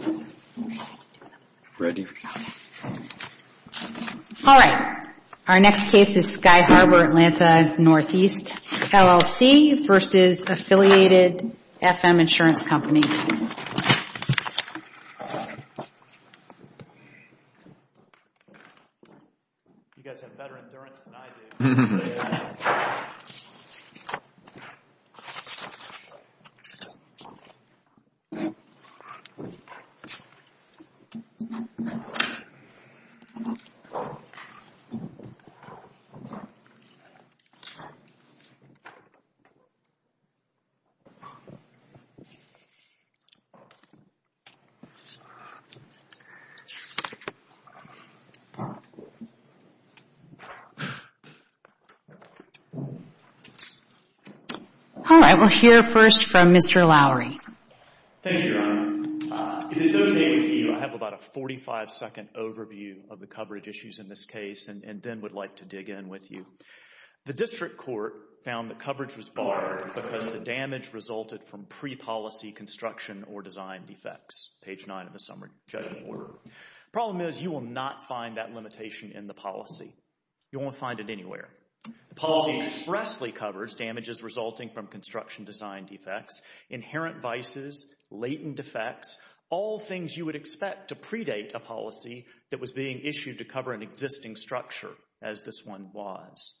All right. Our next case is Sky Harbor Atlanta Northeast LLC v. Affiliated FM Insurance Company. All right. We'll hear first from Mr. Lowery. Thank you, Your Honor. It is okay with you. I have about a 45-second overview of the coverage issues in this case and then would like to dig in with you. The district court found that coverage was barred because the damage resulted from pre-policy construction or design defects, page 9 of the summary judgment order. The problem is you will not find that limitation in the policy. You won't find it anywhere. The policy expressly covers damages resulting from construction design defects, inherent vices, latent defects, all things you would expect to predate a policy that was being issued to cover an existing structure as this one was.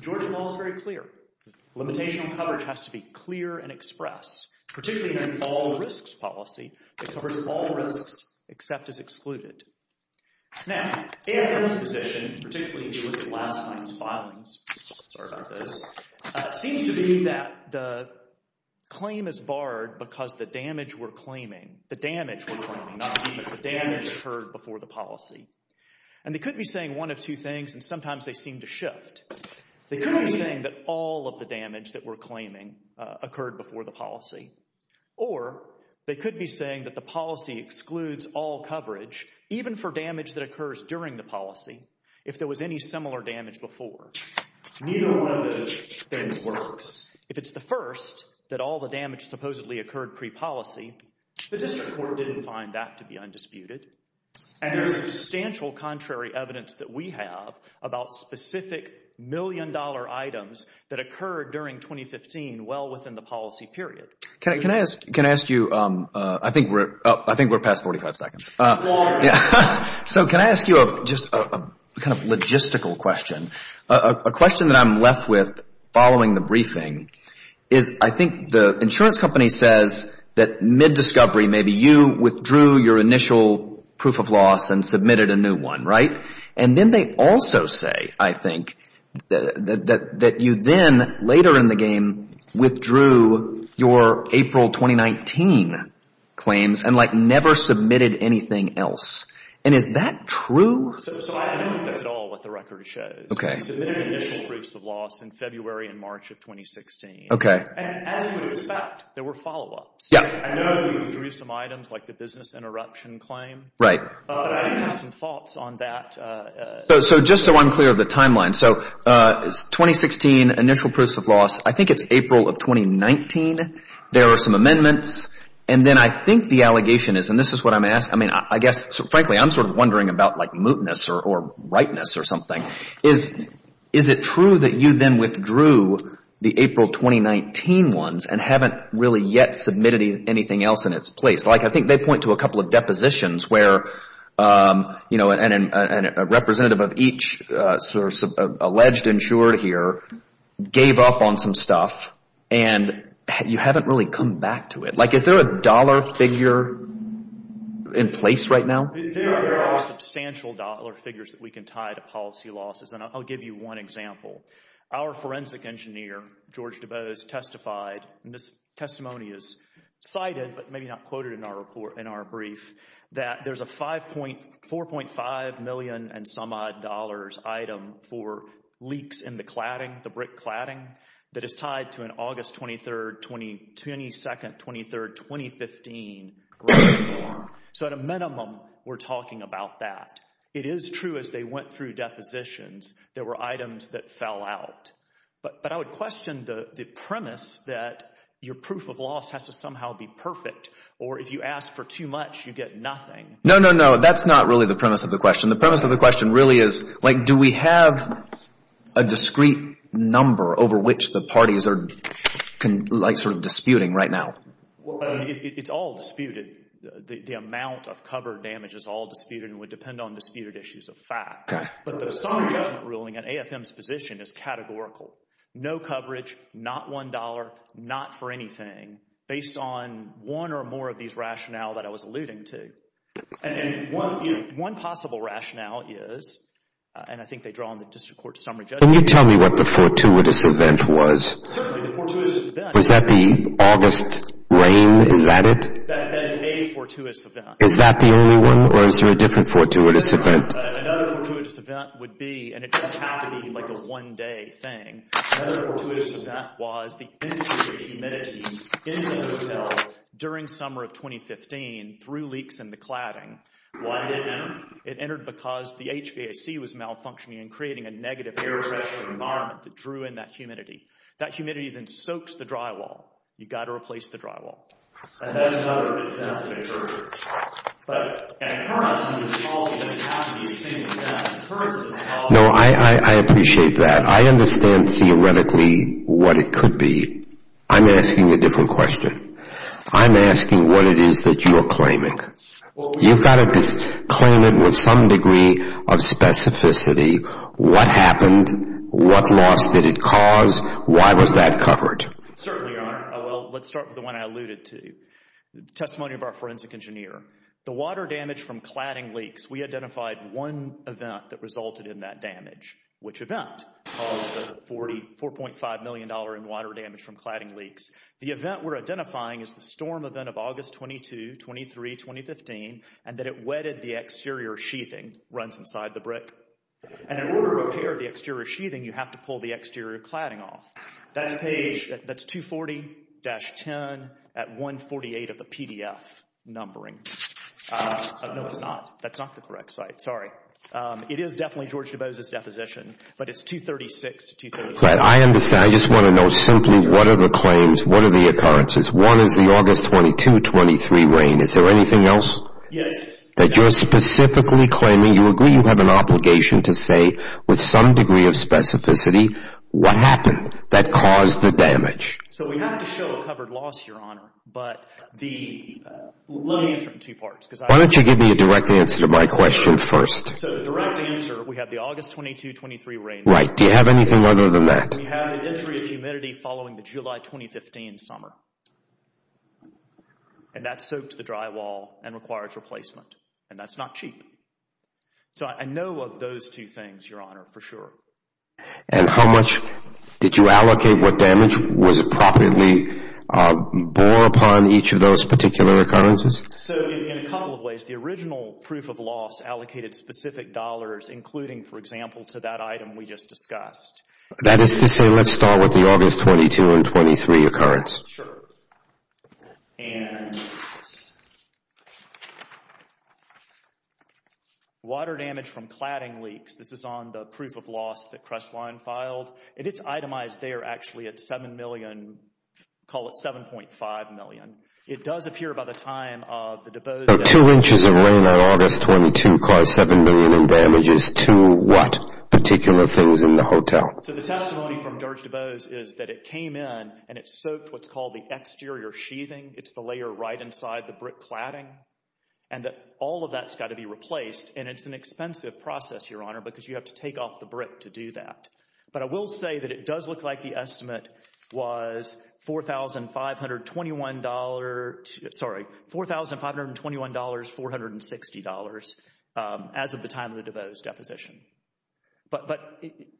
Georgia law is very clear. Limitational coverage has to be clear and express, particularly in an all-risks policy. It covers all risks except as excluded. Now, AFL's position, particularly if you look at last night's filings, sorry about this, seems to be that the claim is barred because the damage we're claiming, the damage we're claiming, not even the damage occurred before the policy. And they could be saying one of two things and sometimes they seem to shift. They could be saying that all of the damage that we're claiming occurred before the policy or they could be saying that the policy excludes all coverage even for damage that occurs during the policy if there was any similar damage before. Neither one of those things works. If it's the first that all the damage supposedly occurred pre-policy, the district court didn't find that to be undisputed. And there's substantial contrary evidence that we have about specific million-dollar items that occurred during 2015 well within the policy period. Can I ask you, I think we're past 45 seconds. So can I ask you just a kind of logistical question? A question that I'm left with following the briefing is I think the insurance company says that mid-discovery maybe you withdrew your initial proof of loss and submitted a new one, right? And then they also say, I think, that you then later in the game withdrew your April 2019 claims and like never submitted anything else. And is that true? So I don't think that's at all what the record shows. You submitted an initial proof of loss in February and March of 2016. And as you would expect, there were follow-ups. I know you withdrew some items like the business interruption claim. I have some thoughts on that. So just so I'm clear of the timeline. So it's 2016, initial proofs of loss. I think it's April of 2019. There are some amendments. And then I think the allegation is, and this is what I'm asking. I mean, I guess, frankly, I'm sort of wondering about like mootness or rightness or something. Is it true that you then withdrew the April 2019 ones and haven't really yet submitted anything else in its place? Like I think they point to a couple of depositions where, you know, a representative of each alleged insured here gave up on some stuff and you haven't really come back to it. Like is there a dollar figure in place right now? There are substantial dollar figures that we can tie to policy losses. And I'll give you one example. Our forensic engineer, George Dubose, testified, and this testimony is cited, but maybe not quoted in our report, in our brief, that there's a $4.5 million and some odd dollars item for leaks in the cladding, the brick cladding, that is tied to an August 23, 22nd, 23rd, 2015. So at a minimum, we're talking about that. It is true as they went through depositions, there were items that fell out. But I would question the premise that your proof of loss has to somehow be perfect, or if you ask for too much, you get nothing. No, no, no. That's not really the premise of the question. The premise of the question really is, like, do we have a discrete number over which the parties are sort of disputing right now? It's all disputed. The amount of cover damage is all disputed and would depend on disputed issues of fact. But the Assam judgment ruling at AFM's position is categorical. No coverage, not $1, not for anything, based on one or more of these rationale that I was alluding to. And one possible rationale is, and I think they draw on the district court summary judgment. Can you tell me what the fortuitous event was? Certainly, the fortuitous event. Was that the August rain? Is that it? That is a fortuitous event. Is that the only one, or is there a different fortuitous event? Another fortuitous event would be, and it doesn't have to be like a one-day thing. Another fortuitous event was the increase of humidity in the hotel during summer of 2015 through leaks in the cladding. Why did it enter? It entered because the HVAC was malfunctioning and creating a negative air pressure environment that drew in that humidity. That humidity then soaks the drywall. You've got to replace the drywall. And that's another, it's another picture. But an occurrence of this policy doesn't have to be seen as an occurrence of this policy. No, I appreciate that. I understand theoretically what it could be. I'm asking a different question. I'm asking what it is that you are claiming. You've got to claim it with some degree of specificity. What happened? What loss did it cause? Why was that covered? Certainly, Your Honor. Well, let's start with the one I alluded to, the testimony of our forensic engineer. The water damage from that caused the $4.5 million in water damage from cladding leaks. The event we're identifying is the storm event of August 22, 23, 2015, and that it wetted the exterior sheathing runs inside the brick. And in order to repair the exterior sheathing, you have to pull the exterior cladding off. That's page, that's 240-10 at 148 of the PDF numbering. No, it's not. That's not the correct site. Sorry. It is definitely George DeBose's deposition, but it's 236-237. I understand. I just want to know simply what are the claims, what are the occurrences? One is the August 22, 23 rain. Is there anything else? Yes. That you're specifically claiming, you agree you have an obligation to say with some degree of specificity, what happened that caused the damage? So we have to show a covered loss, Your Honor, but let me answer it in two parts. Why don't you give me a direct answer to my question first? So the direct answer, we have the August 22, 23 rain. Right. Do you have anything other than that? We have an entry of humidity following the July 2015 summer. And that soaked the drywall and required replacement. And that's not cheap. So I know of those two things, Your Honor, for sure. And how much did you allocate? What damage was properly bore upon each of those particular occurrences? So in a couple of ways, the original proof of loss allocated specific dollars, including, for example, to that item we just discussed. That is to say, let's start with the August 22 and 23 occurrence. Sure. And water damage from cladding leaks. This is on the proof of loss that Crestline filed. And it's itemized there actually at $7 million. Call it $7.5 million. It does appear by the time of the DuBose. So two inches of rain on August 22 caused $7 million in damages to what particular things in the hotel? So the testimony from George is that it's the exterior sheathing. It's the layer right inside the brick cladding. And that all of that's got to be replaced. And it's an expensive process, Your Honor, because you have to take off the brick to do that. But I will say that it does look like the estimate was $4,521, sorry, $4,521, $460 as of the time of the DuBose deposition. But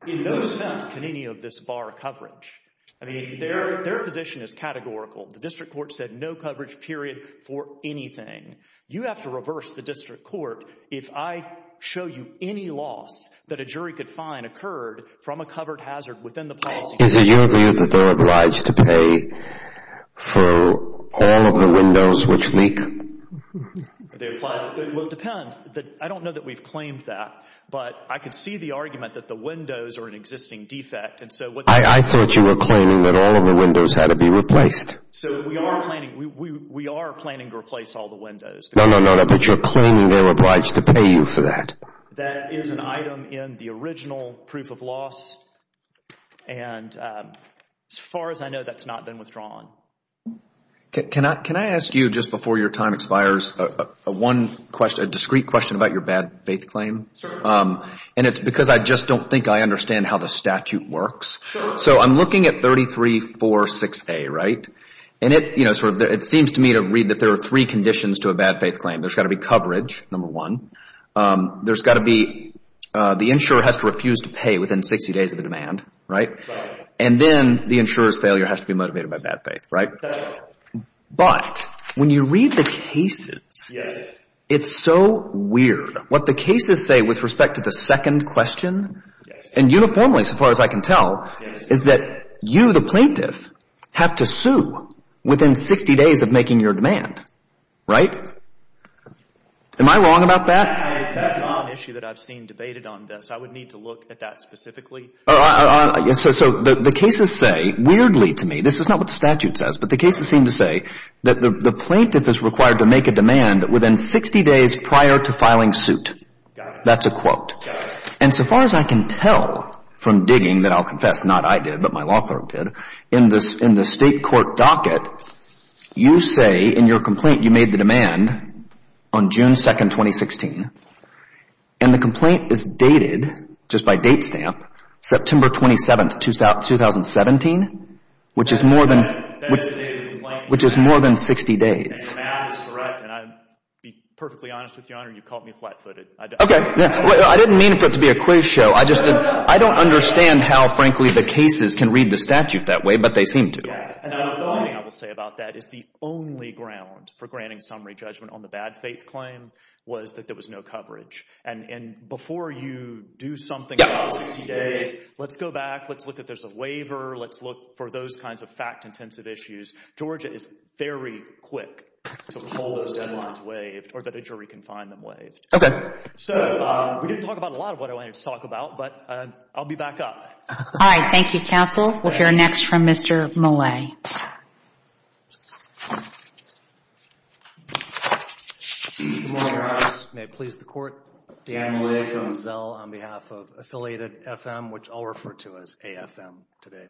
in no sense can any of this bar coverage. I mean, their position is categorical. The district court said no coverage, period, for anything. You have to reverse the district court if I show you any loss that a jury could find occurred from a covered hazard within the policy. Is it your view that they're obliged to pay for all of the windows which leak? Well, it depends. I don't know that we've claimed that. But I could see the argument that the windows are an existing defect. I thought you were claiming that all of the windows had to be replaced. So we are planning to replace all the windows. No, no, no, no. But you're claiming they're obliged to pay you for that. That is an item in the original proof of loss. And as far as I know, that's not been withdrawn. Can I ask you, just before your time expires, a discrete question about your bad-faith claim? And it's because I just don't think I understand how the statute works. So I'm looking at 3346A, right? And it seems to me to read that there are three conditions to a bad-faith claim. There's got to be coverage, number one. There's got to be, the insurer has to be convicted of a bad faith, right? But when you read the cases, it's so weird. What the cases say with respect to the second question, and uniformly, so far as I can tell, is that you, the plaintiff, have to sue within 60 days of making your demand, right? Am I wrong about that? That's not an issue that I've seen debated on this. I would need to look at that specifically. So the cases say, weirdly to me, this is not what the statute says, but the cases seem to say that the plaintiff is required to make a demand within 60 days prior to filing suit. That's a quote. And so far as I can tell from digging, that I'll confess, not I did, but my law clerk did, in the state court docket, you say in your complaint you made the demand on June 2, 2016, and the complaint is dated, just by date stamp, September 27, 2017, which is more than, which is more than 60 days. Okay. I didn't mean for it to be a quiz show. I just, I don't understand how, frankly, the cases can read the statute that way, but they seem to. The only ground for granting summary judgment on the bad faith claim was that there was no coverage. And before you do something about 60 days, let's go back, let's look if there's a waiver, let's look for those kinds of fact-intensive issues. Georgia is very quick to hold those deadlines waived, or that a jury can find them waived. Okay. So we didn't talk about a lot of what I wanted to talk about, but I'll be back up. All right. Thank you, counsel. We'll hear next from Mr. Millay. Good morning, Your Honor. May it please the Court. Dan Millay from Zell on behalf of affiliated FM, which I'll refer to as AFM today.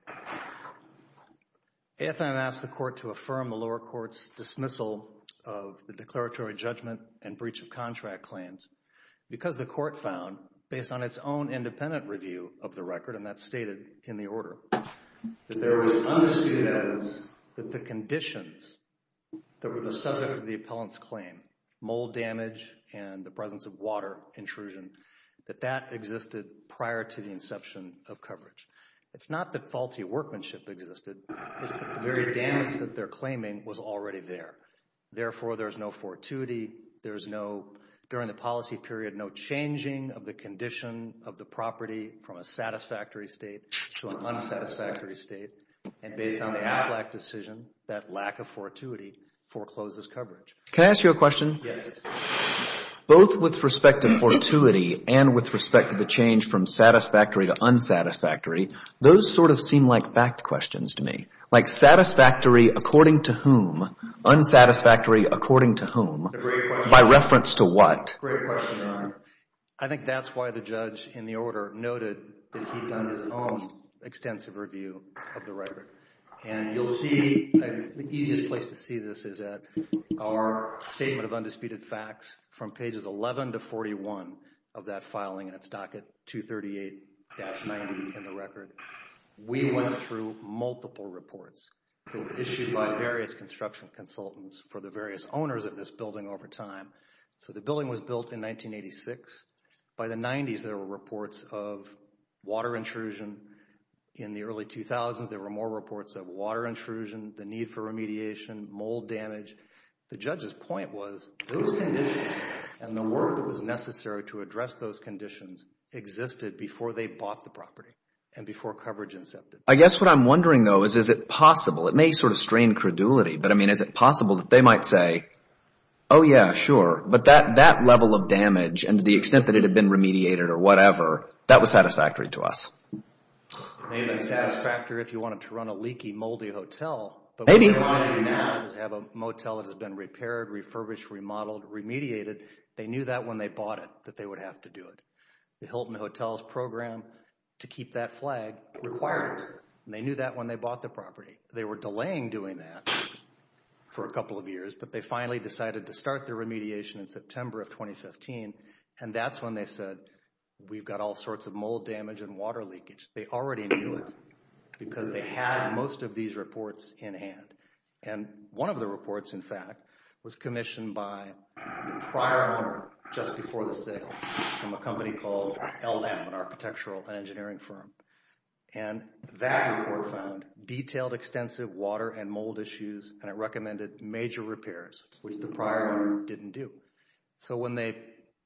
AFM asked the Court to affirm the lower court's dismissal of the declaratory judgment and breach of contract claims because the Court found, based on its own independent review of the record, and that's stated in the order, that there was undisputed evidence that the conditions that were the subject of the appellant's claim, mold damage and the presence of water intrusion, that that existed prior to the inception of coverage. It's not that faulty workmanship existed. It's that the very damage that they're claiming was already there. Therefore, there's no fortuity. There's no during the policy period, no changing of the condition of the property from a satisfactory state to an unsatisfactory state. And based on the AFLAC decision, that lack of fortuity forecloses coverage. Can I ask you a question? Yes. Both with respect to fortuity and with respect to the change from satisfactory to according to whom? Unsatisfactory according to whom? By reference to what? Great question, Your Honor. I think that's why the judge in the order noted that he'd done his own extensive review of the record. And you'll see, the easiest place to see this is at our statement of undisputed facts from pages 11 to 41 of that filing, and it's docket 238-90 in the record. We went through multiple reports issued by various construction consultants for the various owners of this building over time. So the building was built in 1986. By the 90s, there were reports of water intrusion. In the early 2000s, there were more reports of water intrusion, the need for remediation, mold damage. The judge's point was those conditions and the work that was necessary to address those conditions existed before they bought the property and before coverage incepted. I guess what I'm wondering though is, is it possible, it may sort of strain credulity, but I mean, is it possible that they might say, oh yeah, sure, but that level of damage and the extent that it had been remediated or whatever, that was satisfactory to us? It may have been satisfactory if you wanted to run a leaky, moldy hotel. Maybe. If you wanted to have a motel that has been repaired, refurbished, remodeled, remediated, they knew that when they bought it, that they would have to do it. The Hilton Hotels Program to keep that flag required it. They knew that when they bought the property. They were delaying doing that for a couple of years, but they finally decided to start the remediation in September of 2015, and that's when they said, we've got all sorts of mold damage and water leakage. They already knew it because they had most of these reports in hand. And one of the reports, in fact, was commissioned by the prior owner just before the sale from a company called LLAM, an architectural and engineering firm. And that report found detailed extensive water and mold issues and it recommended major repairs, which the prior owner didn't do. So when they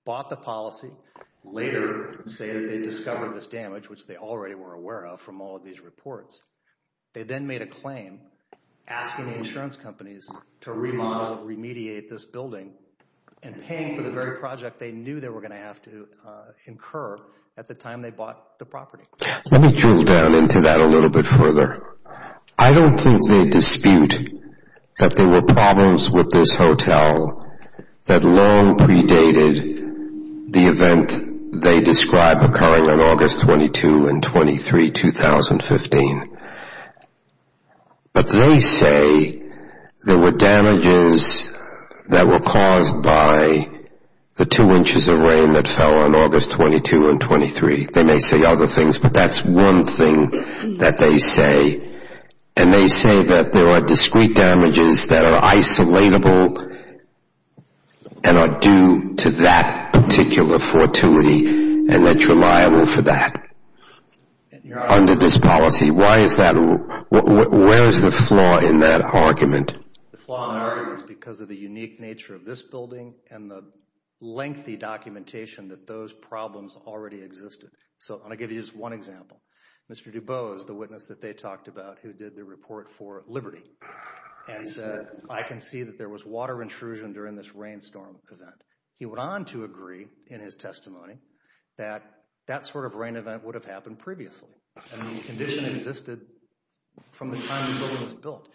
bought the policy, later they discovered this damage, which they already were aware of from all of these reports. They then made a claim asking the insurance companies to remodel, remediate this building and paying for the very project they knew they were going to have to incur at the time they bought the property. Let me drill down into that a little bit further. I don't think they dispute that there were problems with this hotel that long predated the event they described occurring on August 22 and 23, 2015. But they say there were damages that were caused by the two inches of rain that fell on August 22 and 23. They may say other things, but that's one thing that they say. And they say that there are discrete damages that are isolatable and are due to that particular fortuity and that you're liable for that under this policy. Where is the flaw in that argument? The flaw in that argument is because of the unique nature of this building and the Mr. DuBose, the witness that they talked about who did the report for Liberty and said, I can see that there was water intrusion during this rainstorm event. He went on to agree in his testimony that that sort of rain event would have happened previously and the condition existed from the time the building was built.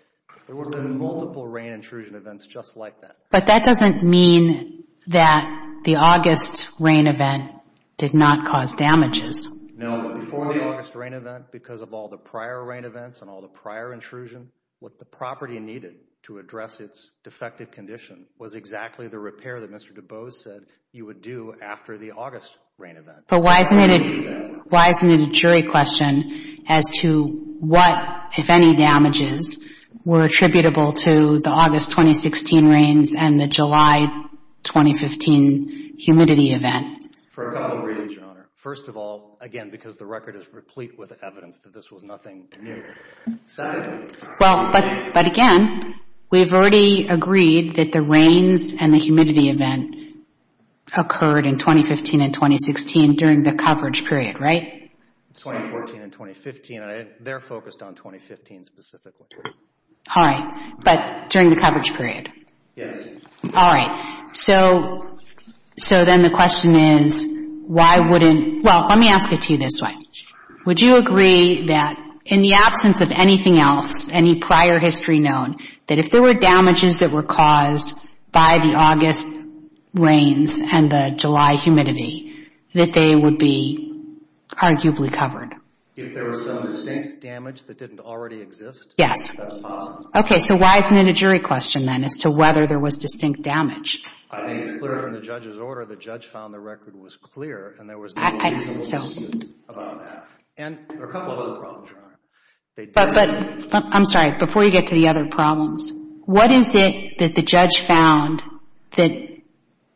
There would have been multiple rain intrusion events just like that. But that doesn't mean that the August rain event did not cause damages. No, but before the August rain event because of all the prior rain events and all the prior intrusion, what the property needed to address its defective condition was exactly the repair that Mr. DuBose said you would do after the August rain event. But why isn't it a jury question as to what, if any, damages were attributable to the event? For a couple of reasons, Your Honor. First of all, again, because the record is replete with evidence that this was nothing new. But again, we've already agreed that the rains and the humidity event occurred in 2015 and 2016 during the coverage period, right? 2014 and 2015. They're focused on 2015 specifically. All right, but during the coverage period, the question is, why wouldn't, well, let me ask it to you this way. Would you agree that in the absence of anything else, any prior history known, that if there were damages that were caused by the August rains and the July humidity, that they would be arguably covered? If there was some distinct damage that didn't already exist? Yes. That's possible. Okay, so why isn't it a jury question then as to whether there was distinct damage? I think it's clear from the judge's order, the judge found the record was clear, and there was no question about that. And there are a couple other problems, Your Honor. But, I'm sorry, before you get to the other problems, what is it that the judge found that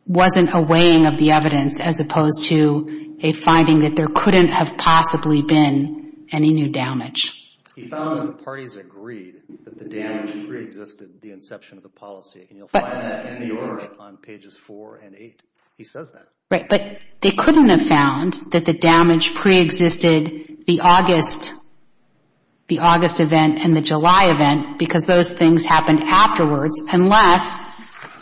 wasn't a weighing of the evidence as opposed to a finding that there couldn't have possibly been any new damage? He found that the parties agreed that the damage preexisted the inception of the policy, and you'll find that in the order on pages 4 and 8. He says that. Right, but they couldn't have found that the damage preexisted the August, the August event and the July event because those things happened afterwards unless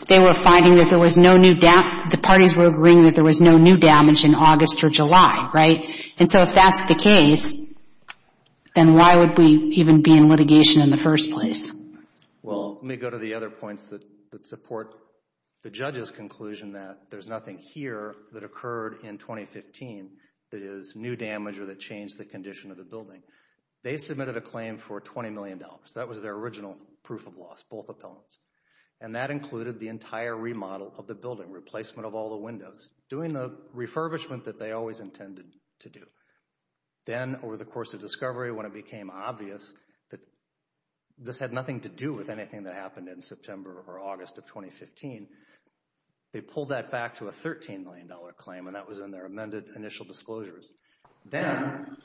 they were finding that there was no new, the parties were agreeing that there was no new damage in August or July, right? And so if that's the case, then why would we even be in litigation in the first place? Well, let me go to the other points that support the judge's conclusion that there's nothing here that occurred in 2015 that is new damage or that changed the condition of the building. They submitted a claim for $20 million. That was their original proof of loss, both appellants. And that was an endorsement that they always intended to do. Then over the course of discovery when it became obvious that this had nothing to do with anything that happened in September or August of 2015, they pulled that back to a $13 million claim and that was in their amended initial disclosures. Then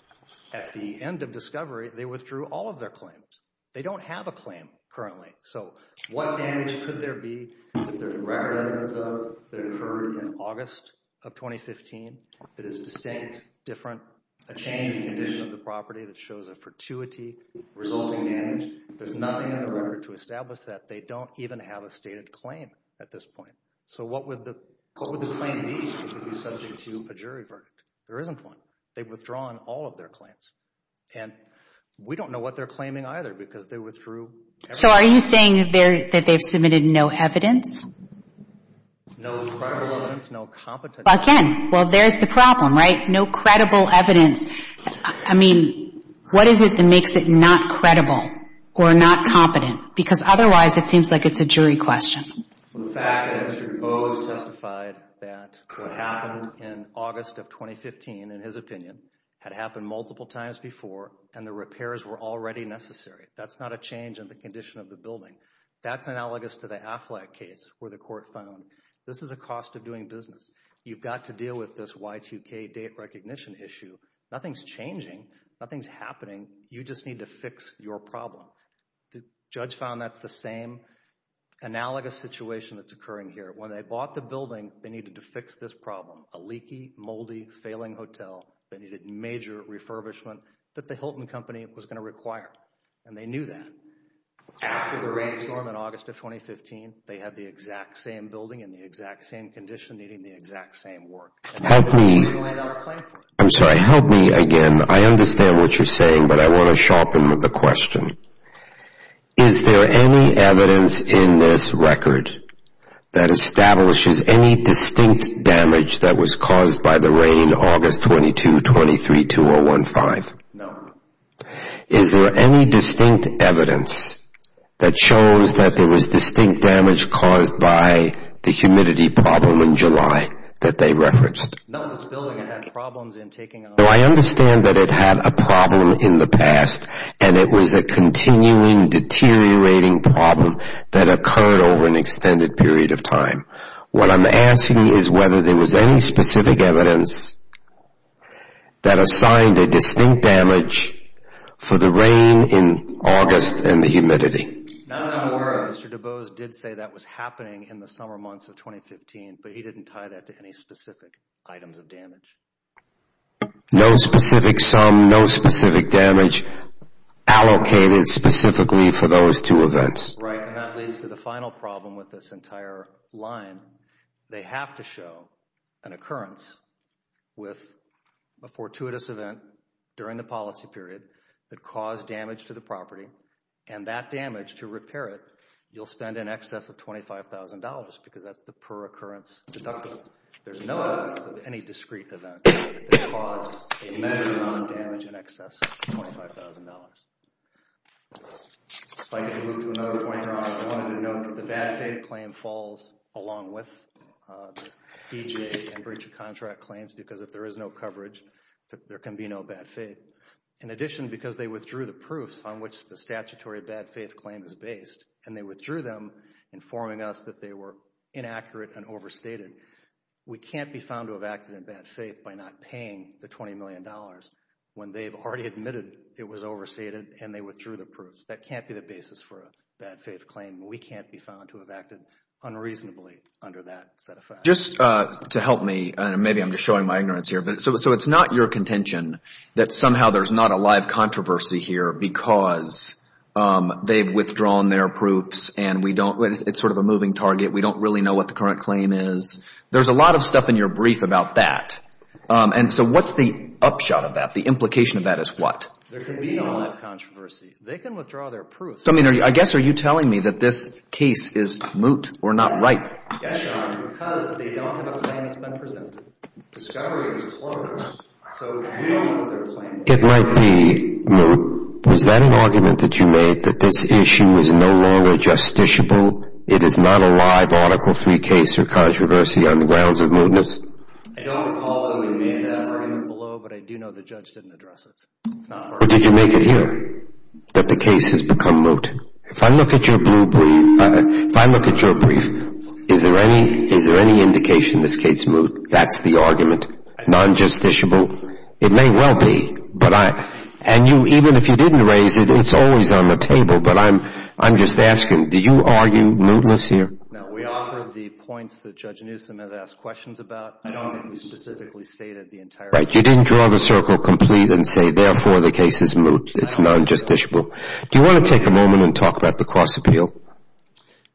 at the end of discovery, they withdrew all of their claims. They don't have a claim currently. So what damage could there be that occurred in August of 2015 that is distinct, different, a change in condition of the property that shows a fortuity resulting damage? There's nothing in the record to establish that. They don't even have a stated claim at this point. So what would the claim be if it was subject to a jury verdict? There isn't one. They've withdrawn all of their claims. And we don't know what they're No credible evidence. No competence. Again, well, there's the problem, right? No credible evidence. I mean, what is it that makes it not credible or not competent? Because otherwise it seems like it's a jury question. The fact that Mr. DuBose testified that what happened in August of 2015, in his opinion, had happened multiple times before and the repairs were already necessary. That's not a change in the condition of the building. That's analogous to the Affleck case where the court found this is a cost of doing business. You've got to deal with this Y2K date recognition issue. Nothing's changing. Nothing's happening. You just need to fix your problem. The judge found that's the same analogous situation that's occurring here. When they bought the building, they needed to fix this problem. A leaky, moldy, failing hotel that needed major refurbishment that the Hilton Company was going to require. And they knew that. After the rainstorm in August of 2015, they had the exact same building in the exact same condition, needing the exact same work. Help me. I'm sorry. Help me again. I understand what you're saying, but I want to sharpen the question. Is there any evidence in this record that establishes any distinct damage that was caused by the rain August 22, 23, 2015? No. Is there any distinct evidence that shows that there was distinct damage caused by the humidity problem in July that they referenced? No. This building had problems in taking... I understand that it had a problem in the past and it was a continuing, deteriorating problem that occurred over an extended period of time. What I'm asking is whether there was any specific evidence that assigned a distinct damage for the rain in August and the humidity. Not that I'm aware of. Mr. DuBose did say that was happening in the summer months of 2015, but he didn't tie that to any specific items of damage. No specific sum, no specific damage allocated specifically for those two events. Right, and that leads to the final problem with this entire line. They have to show an occurrence with a fortuitous event during the policy period that caused damage to the property and that damage, to repair it, you'll spend in excess of $25,000 because that's the per occurrence deductible. There's no evidence of any discrete event that caused a huge amount of damage in excess of $25,000. If I could move to another point, I wanted to note that the bad faith claim falls along with the BJA and breach of contract claims because if there is no coverage, there can be no bad faith. In addition, because they withdrew the proofs on which the statutory bad faith claim is based and they withdrew them informing us that they were inaccurate and overstated, we can't be found to have acted in bad faith by not paying the $20 million when they've already admitted it was overstated and they withdrew the proofs. That can't be the basis for a bad faith claim. We can't be found to have acted unreasonably under that set of facts. Just to help me, maybe I'm just showing my ignorance here, so it's not your contention that somehow there's not a live controversy here because they've withdrawn their proofs and it's sort of a moving target. We don't really know what the current claim is. There's a lot of stuff in your brief about that. So what's the upshot of that? The implication of that is what? I guess are you telling me that this case is moot or not right? Yes, John, because they don't have a claim that's been presented. Discovery is closed, so we don't know their claim. It might be moot. Was that an argument that you made that this issue is no longer justiciable? It is not a live Article 3 case or controversy on the grounds of mootness? I don't recall that we made that argument below, but I do know the judge didn't address it. But did you make it here, that the case has become moot? If I look at your brief, is there any indication this case is moot? That's the argument. Non-justiciable? It may well be. And even if you didn't raise it, it's always on the table, but I'm just asking, do you argue mootness here? No, we offer the points that Judge Newsom has asked questions about. You didn't draw the circle complete and say, therefore, the case is moot. It's non-justiciable. Do you want to take a moment and talk about the cross-appeal?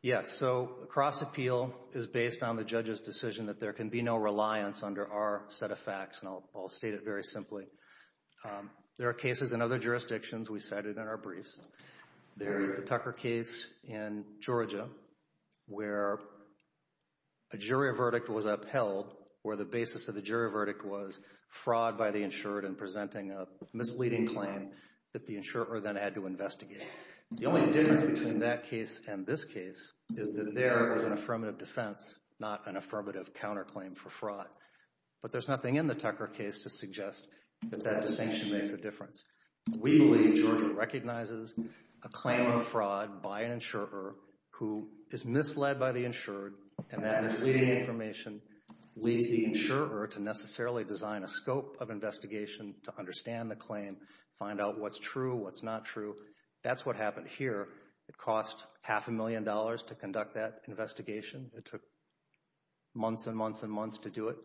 Yes, so cross-appeal is based on the judge's decision that there can be no reliance under our set of facts, and I'll state it very simply. There are cases in other jurisdictions. We cited in our briefs. There is the Tucker case in Georgia, where a jury verdict was upheld, where the basis of the jury verdict was fraud by the insured in presenting a misleading claim that the insurer then had to investigate. The only difference between that case and this case is that there is an affirmative defense, not an affirmative counterclaim for fraud. But there's nothing in the Tucker case to suggest that that distinction makes a difference. We believe Georgia recognizes a claim of fraud by an insurer who is misled by the insured, and that misleading information leads the insurer to necessarily design a scope of investigation to understand the claim, find out what's true, what's not true. That's what happened here. It cost half a million dollars to conduct that investigation. It took months and months and months to do it.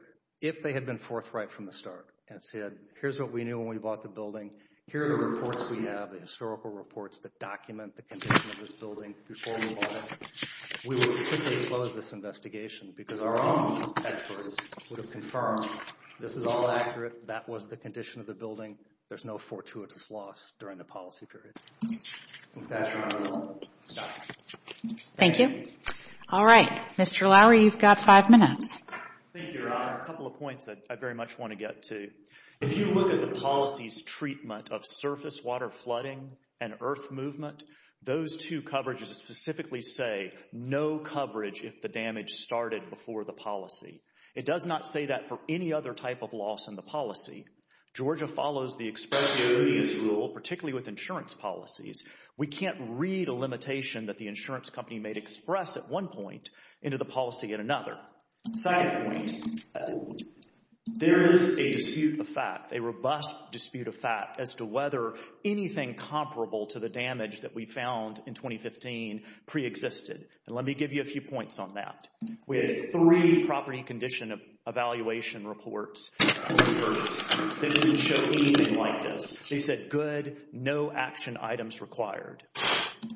If they had been forthright from the start and said, here's what we knew when we bought the building, here are the reports we have, the historical reports that document the condition of this building before we bought it, we would have simply closed this investigation because our own experts would have confirmed this is all accurate, that was the condition of the building, there's no fortuitous loss during the policy period. Thank you. All right. Mr. Lowery, you've got five minutes. Thank you, Your Honor. A couple of points that I very much want to get to. If you look at the policy's treatment of surface water flooding and earth movement, those two coverages specifically say no coverage if the damage started before the policy. It does not say that for any other type of loss in the policy. Georgia follows the express evidence rule, particularly with insurance policies. We can't read a limitation that the insurance company made express at one point into the policy at another. Second point, there is a dispute of fact, a robust dispute of fact, as to whether anything comparable to the damage that we found in 2015 preexisted. And let me give you a few points on that. We had three property condition evaluation reports that didn't show anything like this. They said good, no action items required.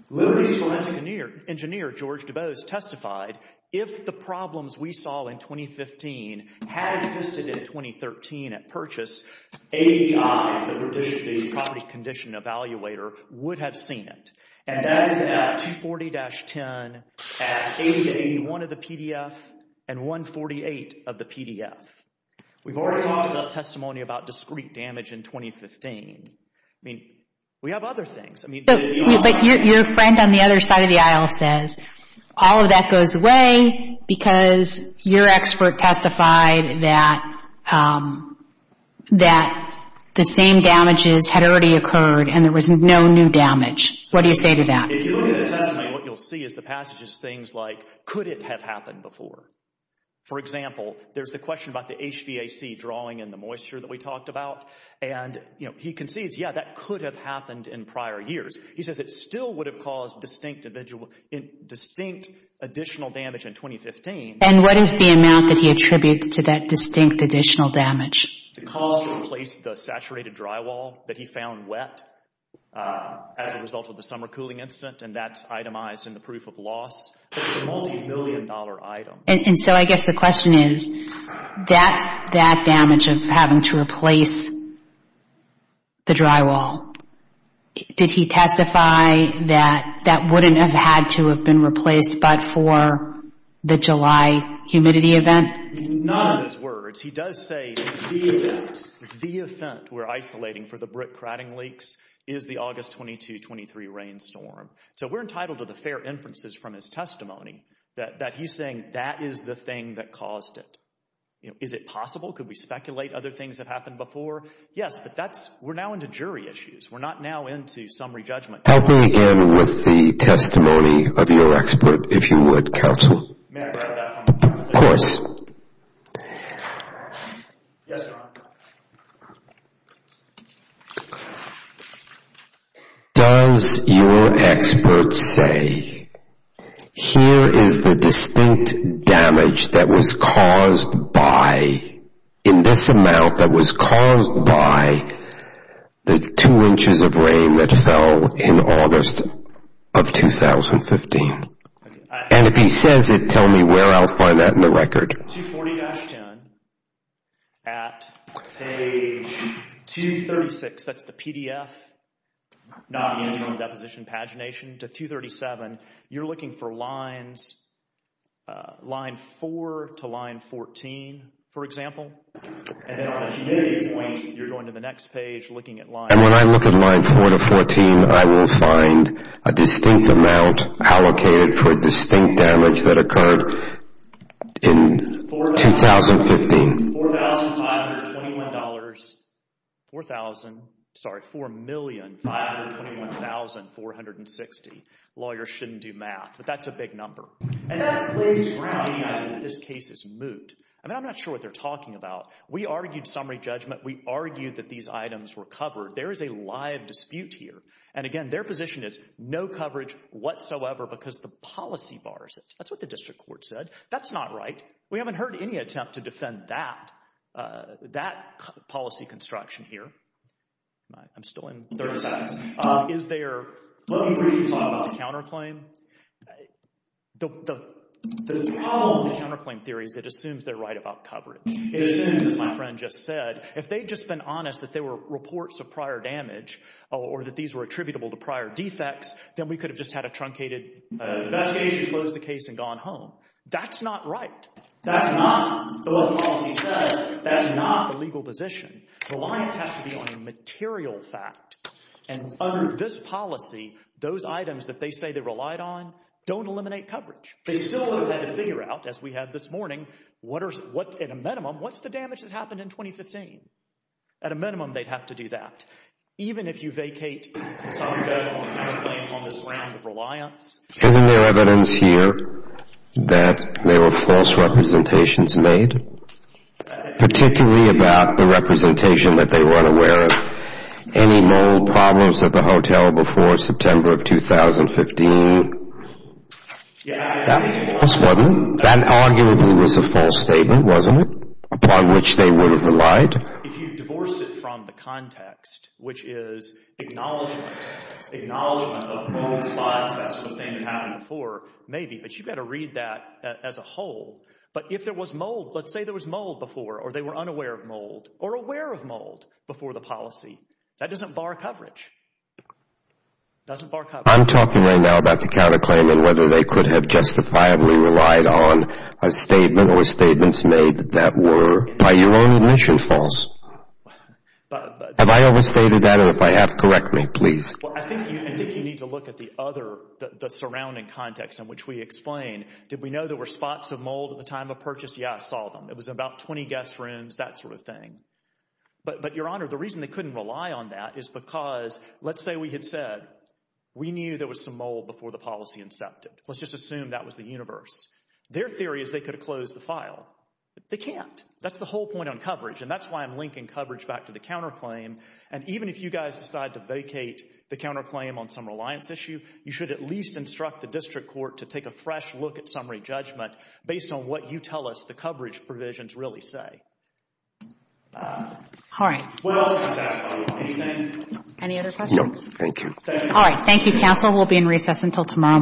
Liberty's Forensic Engineer, George Dubose, testified if the problems we saw in 2015 had existed in 2013 at purchase, ADI, the property condition evaluator would have seen it. And that is about 240-10 at ADI, one of the PDF, and 148 of the PDF. We've already talked about testimony about discrete damage in 2015. I mean, we have other things. But your friend on the other side of the aisle says all of that goes away because your expert testified that the same damages had already occurred and there was no new damage. What do you say to that? If you look at the testimony, what you'll see is the passages, things like, could it have happened before? For example, there's the question about the HVAC drawing and the moisture that we talked about. And he concedes, yeah, that could have happened in prior years. He says it still would have caused distinct additional damage in 2015. And what is the amount that he attributes to that distinct additional damage? The cost to replace the saturated drywall that he found wet as a result of the summer cooling incident, and that's itemized in the proof of loss. It's a multi-million dollar item. And so I guess the question is, that damage of having to replace the drywall, did he testify that that wouldn't have had to have been replaced but for the July humidity event? None of his words. He does say the event, the event we're isolating for the brick crowding leaks is the August 22-23 rainstorm. So we're entitled to the fair inferences from his testimony that he's saying that is the thing that caused it. Is it possible? Could we speculate other things that happened before? Yes, but we're now into jury issues. We're not now into summary judgment. Help me again with the testimony of your expert, if you would, counsel. Of course. Does your expert know the damage that was caused by, in this amount, that was caused by the two inches of rain that fell in August of 2015? And if he says it, tell me where I'll find that in the record. 240-10 at page 236, that's the PDF, not the annual deposition pagination, to 237, you're looking for lines, line 4 to line 14, for example. And then on the humidity point, you're going to the next page looking at line... And when I look at line 4 to 14, I will find a distinct amount allocated for a distinct damage that occurred in 2015. $4,521,460. $4,521,460. Lawyers shouldn't do math, but that's a big number. I'm not sure what they're talking about. We argued summary judgment. We argued that these items were covered. There is a live dispute here. And again, their position is no coverage whatsoever because the policy bars it. That's what the district court said. That's not right. We haven't heard any attempt to defend that policy construction here. I'm still in third. Is there... The problem with the counterclaim theory is it assumes they're right about coverage. It assumes, as my friend just said, if they'd just been honest that they were reports of prior damage or that these were attributable to prior defects, then we could have just had a truncated investigation to close the case and gone home. That's not right. That's not what the policy says. That's not the legal position. Reliance has to be on a material fact. And under this policy, those items that they say they relied on don't eliminate coverage. They still would have had to figure out, as we had this morning, what are... At a minimum, they'd have to do that, even if you vacate some federal counterclaims on this ground of reliance. Isn't there evidence here that there were false representations made, particularly about the representation that they were unaware of? Any mold problems at the hotel before September of 2015? Yeah. That was false, wasn't it? That arguably was a false statement, wasn't it, upon which they would have relied? If you divorced it from the context, which is acknowledgement, acknowledgement of mold spots, that's what they had before, maybe, but you've got to read that as a whole. But if there was mold, let's say there was mold before or they were unaware of mold or aware of mold before the policy, that doesn't bar coverage. I'm talking right now about the counterclaim and whether they could have justifiably relied on a statement or statements made that were, by your own admission, false. Have I overstated that or if I have, correct me, please. I think you need to look at the other, the surrounding context in which we explain. Did we know there were spots of mold at the time of purchase? Yeah, I saw them. It was about 20 guest rooms, that sort of thing. But, Your Honor, the reason they couldn't rely on that is because, let's say we had said, we knew there was some mold before the policy incepted. Let's just assume that was the universe. Their theory is they could have closed the file. They can't. That's the whole point on coverage, and that's why I'm linking coverage back to the counterclaim. And even if you guys decide to vacate the counterclaim on some reliance issue, you should at least instruct the district court to take a fresh look at summary judgment based on what you tell us the coverage provisions really say. All right. Any other questions? No. Thank you. All right. Thank you, counsel. We'll be in recess until tomorrow morning.